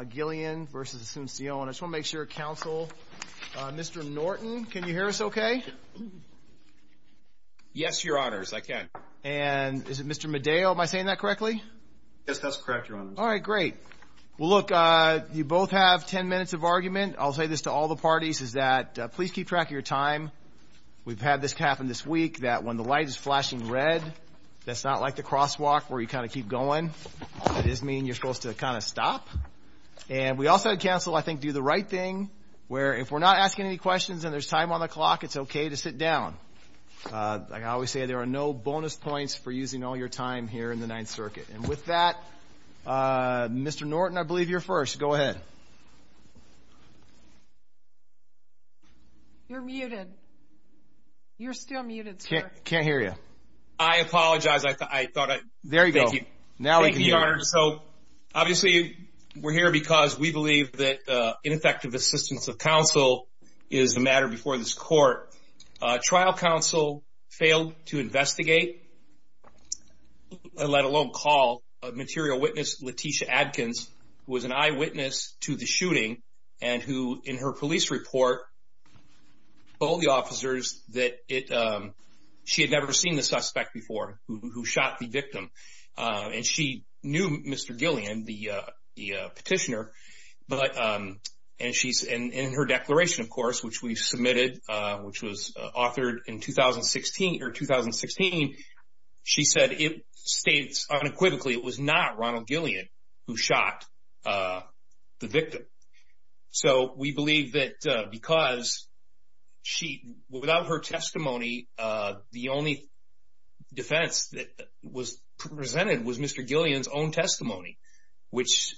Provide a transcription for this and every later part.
Gillion v. Asuncion. I just want to make sure, counsel. Mr. Norton, can you hear us okay? Yes, your honors, I can. And is it Mr. Medeo? Am I saying that correctly? Yes, that's correct, your honors. All right, great. Well, look, you both have ten minutes of argument. I'll say this to all the parties, is that please keep track of your time. We've had this happen this week, that when the light is flashing red, that's not like the crosswalk where you kind of keep going. It does mean you're supposed to kind of stop. And we also had counsel, I think, do the right thing, where if we're not asking any questions and there's time on the clock, it's okay to sit down. Like I always say, there are no bonus points for using all your time here in the Ninth Circuit. And with that, Mr. Norton, I believe you're first. Go ahead. You're muted. You're still muted, sir. I can't hear you. I apologize. There you go. Thank you, your honors. So obviously we're here because we believe that ineffective assistance of counsel is the matter before this court. Trial counsel failed to investigate, let alone call a material witness, Leticia Adkins, who was an eyewitness to the shooting, and who in her police report told the officers that she had never seen the person who shot the victim. And she knew Mr. Gillian, the petitioner, and in her declaration, of course, which we submitted, which was authored in 2016, she said, it states unequivocally it was not Ronald Gillian who shot the victim. So we believe that because without her testimony, the only defense that was presented was Mr. Gillian's own testimony, which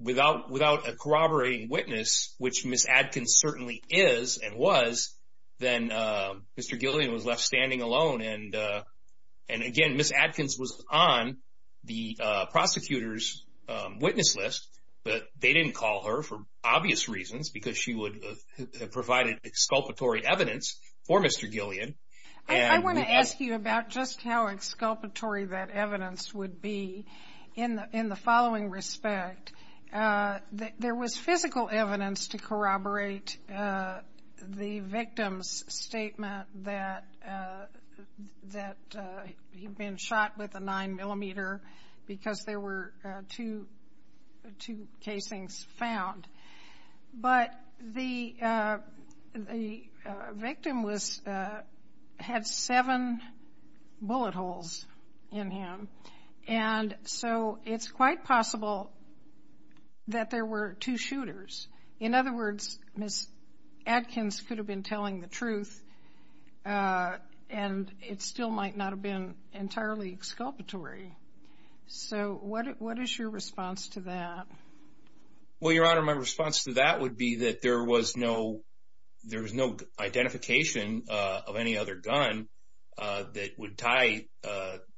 without a corroborating witness, which Ms. Adkins certainly is and was, then Mr. Gillian was left standing alone. And again, Ms. Adkins was on the prosecutor's witness list, but they didn't call her for obvious reasons, because she provided exculpatory evidence for Mr. Gillian. I want to ask you about just how exculpatory that evidence would be in the following respect. There was physical evidence to corroborate the victim's statement that he'd been shot with a 9mm because there were two casings found. But the victim had seven bullet holes in him, and so it's quite possible that there were two shooters. In other words, Ms. Adkins could have been telling the truth, and it still might not have been entirely exculpatory. So what is your response to that? Well, Your Honor, my response to that would be that there was no identification of any other gun that would tie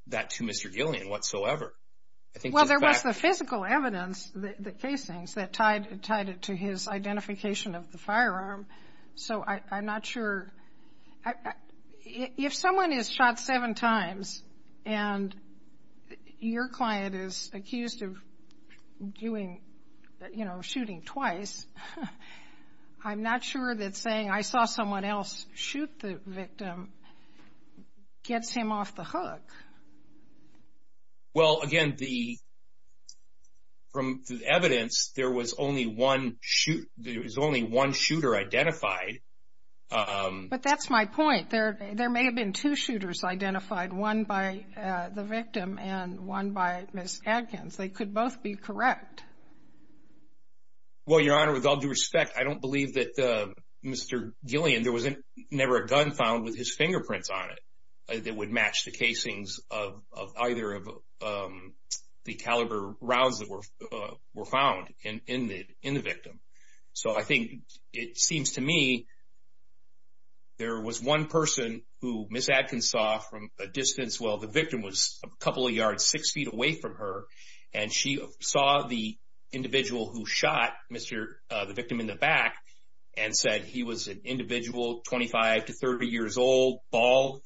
that to Mr. Gillian whatsoever. Well, there was the physical evidence, the casings, that tied it to his identification of the firearm. So I'm not sure. If someone is shot seven times and your client is accused of shooting twice, I'm not sure that saying, I saw someone else shoot the victim gets him off the hook. Well, again, from the evidence, there was only one shooter identified. But that's my point. There may have been two shooters identified, one by the victim and one by Ms. Adkins. They could both be correct. Well, Your Honor, with all due respect, I don't believe that Mr. Gillian, there was never a gun found with his fingerprints on it that would match the casings of either of the caliber rounds that were found in the victim. So I think it seems to me there was one person who Ms. Adkins saw from a distance. Well, the victim was a couple of yards, six feet away from her. And she saw the individual who shot the victim in the back and said he was an individual, 25 to 30 years old, bald.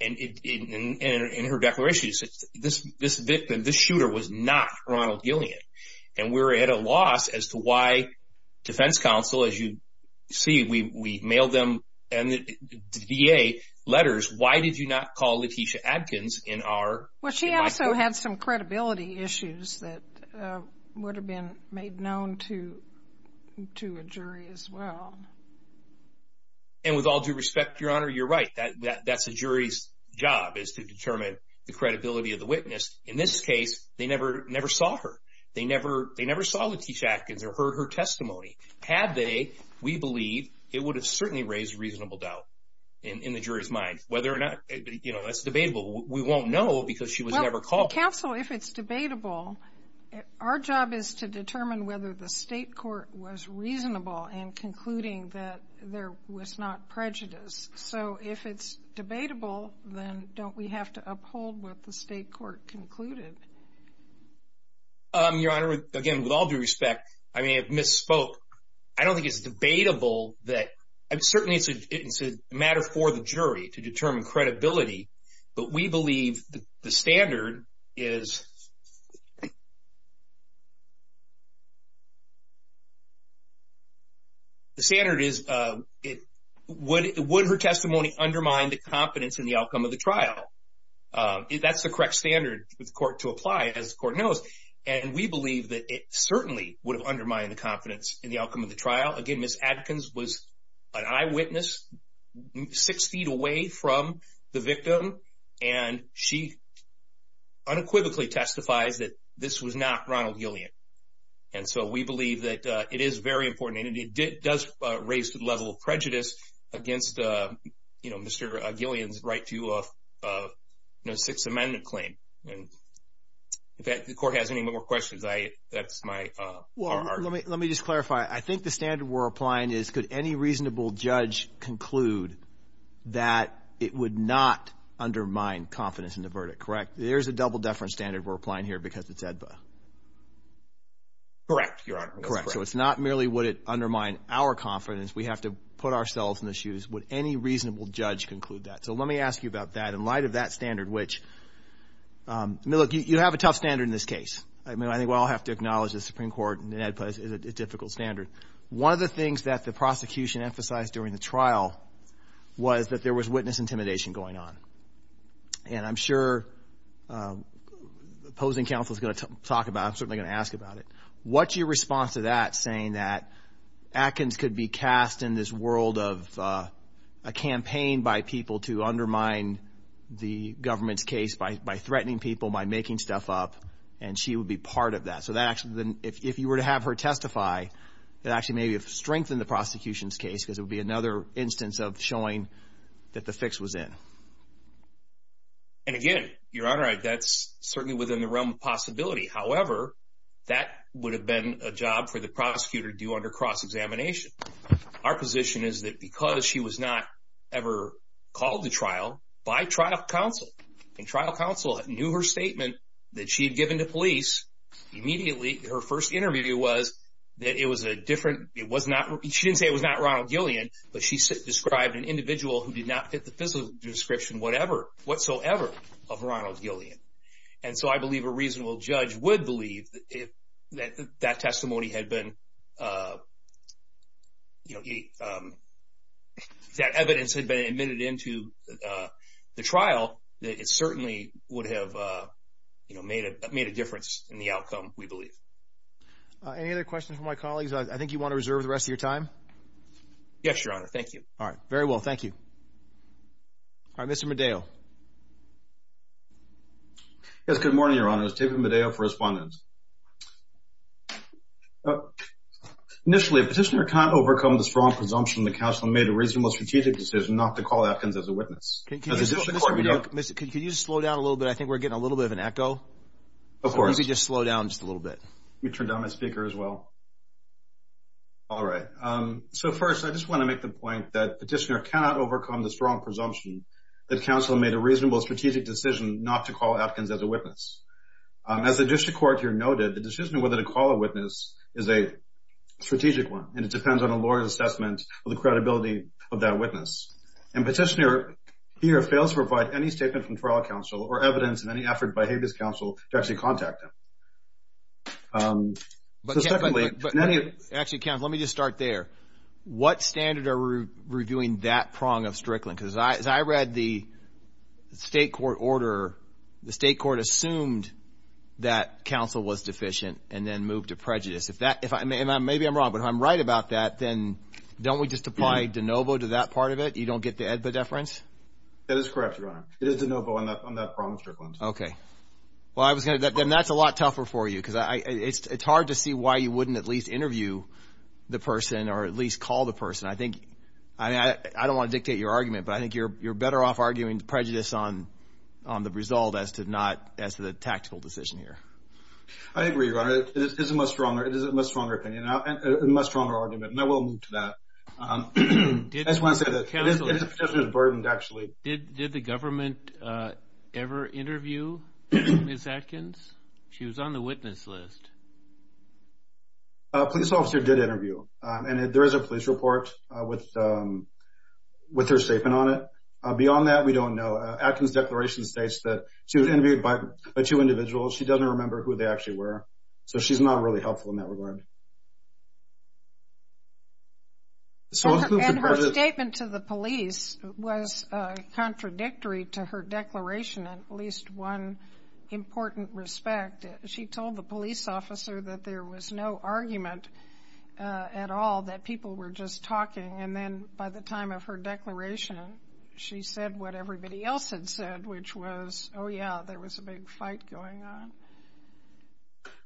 And in her declaration she said, this victim, this shooter was not Ronald Gillian. And we're at a loss as to why defense counsel, as you see, we mailed them to the VA letters, why did you not call Letitia Adkins in our case? Well, she also had some credibility issues that would have been made known to a jury as well. And with all due respect, Your Honor, you're right. That's a jury's job is to determine the credibility of the witness. In this case, they never saw her. They never saw Letitia Adkins or heard her testimony. Had they, we believe it would have certainly raised reasonable doubt in the jury's mind whether or not, you know, that's debatable. We won't know because she was never called. Counsel, if it's debatable, our job is to determine whether the state court was reasonable in concluding that there was not prejudice. So if it's debatable, then don't we have to uphold what the state court concluded? Your Honor, again, with all due respect, I may have misspoke. I don't think it's debatable that, certainly it's a matter for the jury to determine credibility, but we believe the standard is, The standard is, would her testimony undermine the confidence in the outcome of the trial? That's the correct standard for the court to apply, as the court knows. And we believe that it certainly would have undermined the confidence in the outcome of the trial. Again, Ms. Adkins was an eyewitness six feet away from the victim, and she unequivocally testifies that this was not Ronald Gillian. And so we believe that it is very important, and it does raise the level of prejudice against, you know, Mr. Gillian's right to a Sixth Amendment claim. And if the court has any more questions, that's my part. Well, let me just clarify. I think the standard we're applying is, could any reasonable judge conclude that it would not undermine confidence in the verdict, correct? There's a double-deference standard we're applying here because it's AEDPA. Correct, Your Honor. Correct. So it's not merely would it undermine our confidence. We have to put ourselves in the shoes. Would any reasonable judge conclude that? So let me ask you about that. In light of that standard, which, look, you have a tough standard in this case. I mean, I think we all have to acknowledge the Supreme Court and AEDPA is a difficult standard. One of the things that the prosecution emphasized during the trial was that there was witness intimidation going on. And I'm sure opposing counsel is going to talk about it. I'm certainly going to ask about it. What's your response to that, saying that Atkins could be cast in this world of a campaign by people to undermine the government's case by threatening people, by making stuff up, and she would be part of that? So that actually, if you were to have her testify, it actually may have strengthened the prosecution's case because it would be another instance of showing that the fix was in. And, again, Your Honor, that's certainly within the realm of possibility. However, that would have been a job for the prosecutor due under cross-examination. Our position is that because she was not ever called to trial by trial counsel, and trial counsel knew her statement that she had given to police, immediately her first interview was that it was a different, she didn't say it was not Ronald Gillian, but she described an individual who did not fit the physical description whatsoever of Ronald Gillian. And so I believe a reasonable judge would believe that that testimony had been, you know, that evidence had been admitted into the trial, that it certainly would have, you know, made a difference in the outcome, we believe. Any other questions from my colleagues? I think you want to reserve the rest of your time. Yes, Your Honor, thank you. All right, very well, thank you. All right, Mr. Medeo. Yes, good morning, Your Honor. My name is David Medeo for Respondent. Initially, a petitioner cannot overcome the strong presumption that counsel made a reasonable strategic decision not to call Atkins as a witness. Can you slow down a little bit? I think we're getting a little bit of an echo. Of course. Maybe just slow down just a little bit. Let me turn down my speaker as well. All right, so first I just want to make the point that petitioner cannot overcome the strong presumption that counsel made a reasonable strategic decision not to call Atkins as a witness. As the district court here noted, the decision on whether to call a witness is a strategic one, and it depends on a lawyer's assessment of the credibility of that witness. And petitioner here fails to provide any statement from trial counsel or evidence in any effort by Habeas Counsel to actually contact him. So secondly, in any of this. Actually, counsel, let me just start there. What standard are we reviewing that prong of Strickland? Because as I read the state court order, the state court assumed that counsel was deficient and then moved to prejudice. Maybe I'm wrong, but if I'm right about that, then don't we just apply de novo to that part of it? You don't get the EDBA deference? That is correct, Your Honor. It is de novo on that prong of Strickland. Okay. Then that's a lot tougher for you because it's hard to see why you wouldn't at least interview the person or at least call the person. I don't want to dictate your argument, but I think you're better off arguing prejudice on the result as to the tactical decision here. I agree, Your Honor. It is a much stronger argument, and I will move to that. I just want to say that it is a petitioner's burden, actually. Did the government ever interview Ms. Atkins? She was on the witness list. A police officer did interview, and there is a police report with her statement on it. Beyond that, we don't know. Atkins' declaration states that she was interviewed by two individuals. She doesn't remember who they actually were, so she's not really helpful in that regard. Her statement to the police was contradictory to her declaration in at least one important respect. In fact, she told the police officer that there was no argument at all, that people were just talking, and then by the time of her declaration she said what everybody else had said, which was, oh, yeah, there was a big fight going on.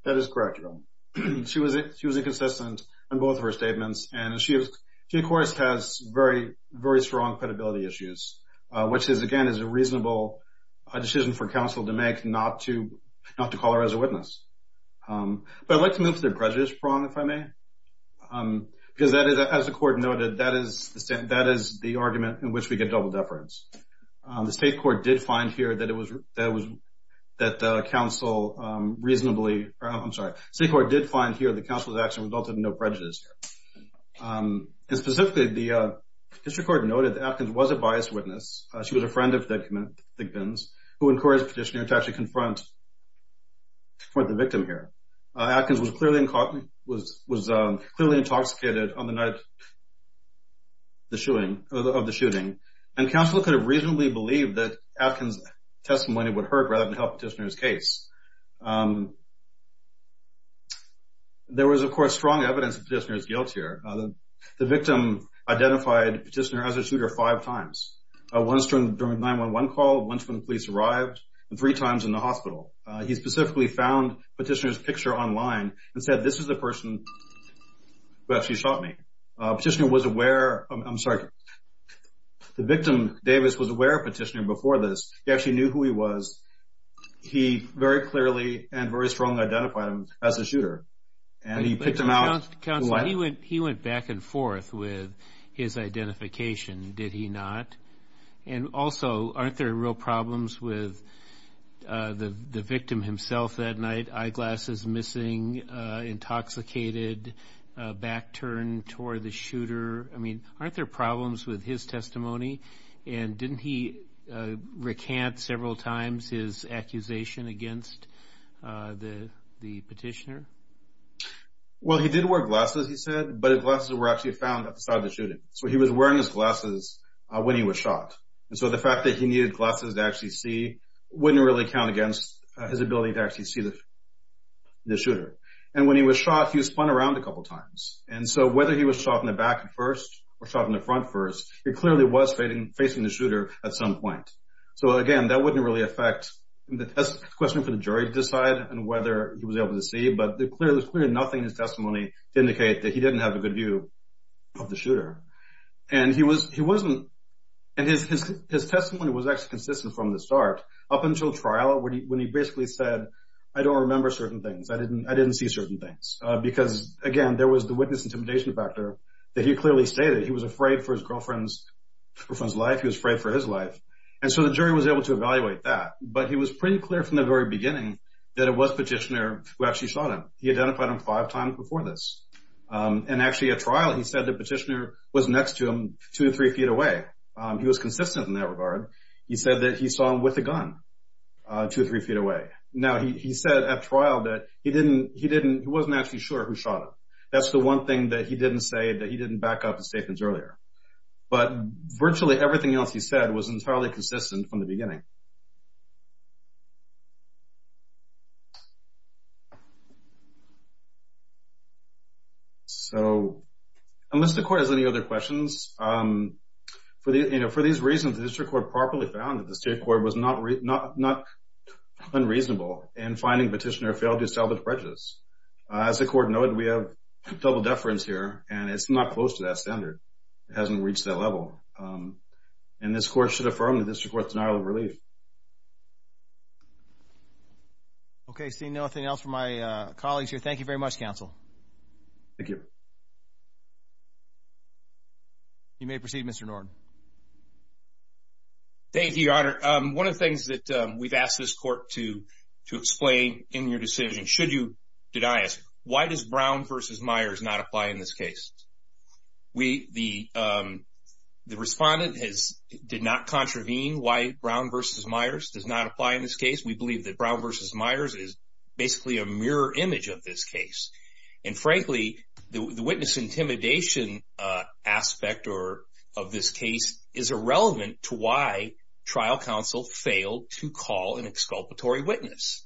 That is correct, Your Honor. She was inconsistent on both of her statements, and she, of course, has very strong credibility issues, which is, again, a reasonable decision for counsel to make not to call her as a witness. But I'd like to move to the prejudice prong, if I may, because as the Court noted, that is the argument in which we get double deference. The State Court did find here that counsel reasonably or, I'm sorry, the State Court did find here that counsel's action resulted in no prejudice. Specifically, the district court noted that Atkins was a biased witness. She was a friend of Dick Vins, who encouraged Petitioner to actually confront the victim here. Atkins was clearly intoxicated on the night of the shooting, and counsel could have reasonably believed that Atkins' testimony would hurt rather than help Petitioner's case. There was, of course, strong evidence of Petitioner's guilt here. The victim identified Petitioner as a shooter five times, once during the 911 call, once when the police arrived, and three times in the hospital. He specifically found Petitioner's picture online and said, this is the person who actually shot me. Petitioner was aware, I'm sorry, the victim, Davis, was aware of Petitioner before this. He actually knew who he was. He very clearly and very strongly identified him as a shooter, and he picked him out. Counsel, he went back and forth with his identification, did he not? And also, aren't there real problems with the victim himself that night, eyeglasses missing, intoxicated, back turned toward the shooter? I mean, aren't there problems with his testimony? And didn't he recant several times his accusation against the Petitioner? Well, he did wear glasses, he said, but his glasses were actually found at the site of the shooting. So he was wearing his glasses when he was shot. And so the fact that he needed glasses to actually see wouldn't really count against his ability to actually see the shooter. And when he was shot, he was spun around a couple times. And so whether he was shot in the back first or shot in the front first, he clearly was facing the shooter at some point. So, again, that wouldn't really affect the question for the jury to decide on whether he was able to see, but there was clearly nothing in his testimony to indicate that he didn't have a good view of the shooter. And his testimony was actually consistent from the start up until trial when he basically said, I don't remember certain things, I didn't see certain things. Because, again, there was the witness intimidation factor that he clearly stated. He was afraid for his girlfriend's life, he was afraid for his life. And so the jury was able to evaluate that. But he was pretty clear from the very beginning that it was Petitioner who actually shot him. He identified him five times before this. And actually at trial he said that Petitioner was next to him two or three feet away. He was consistent in that regard. He said that he saw him with a gun two or three feet away. Now, he said at trial that he wasn't actually sure who shot him. That's the one thing that he didn't say that he didn't back up his statements earlier. But virtually everything else he said was entirely consistent from the beginning. So unless the Court has any other questions, for these reasons the District Court properly found that the State Court was not unreasonable in finding Petitioner failed to establish prejudice. As the Court noted, we have double deference here. And it's not close to that standard. It hasn't reached that level. And this Court should affirm the District Court's denial of relief. Okay, seeing nothing else from my colleagues here, thank you very much, Counsel. Thank you. You may proceed, Mr. Norton. Thank you, Your Honor. One of the things that we've asked this Court to explain in your decision, did I ask, why does Brown v. Myers not apply in this case? The Respondent did not contravene why Brown v. Myers does not apply in this case. We believe that Brown v. Myers is basically a mirror image of this case. And frankly, the witness intimidation aspect of this case is irrelevant to why trial counsel failed to call an exculpatory witness.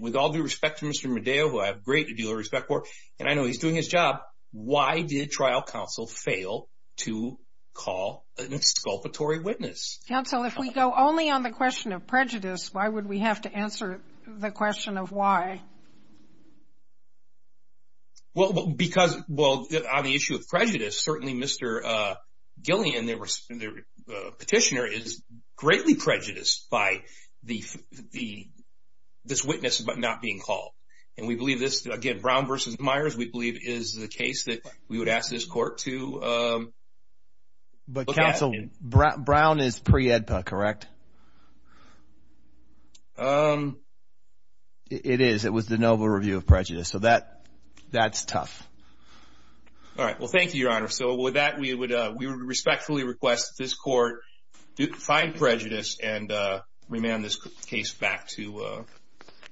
With all due respect to Mr. Medeo, who I have a great deal of respect for, and I know he's doing his job, why did trial counsel fail to call an exculpatory witness? Counsel, if we go only on the question of prejudice, why would we have to answer the question of why? On the issue of prejudice, certainly Mr. Gillian, the Petitioner, is greatly prejudiced by this witness not being called. And we believe this, again, Brown v. Myers, we believe is the case that we would ask this Court to look at. But Counsel, Brown is pre-EDPA, correct? It is. It was the Nova Review of Prejudice. So that's tough. All right. Well, thank you, Your Honor. So with that, we respectfully request that this Court find prejudice and remand this case back to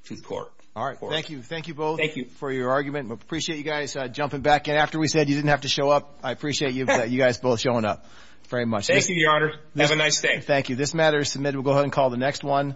the Court. All right. Thank you. Thank you both for your argument. We appreciate you guys jumping back in. After we said you didn't have to show up, I appreciate you guys both showing up. Thank you, Your Honor. Have a nice day. Thank you. This matter is submitted. We'll go ahead and call the next one.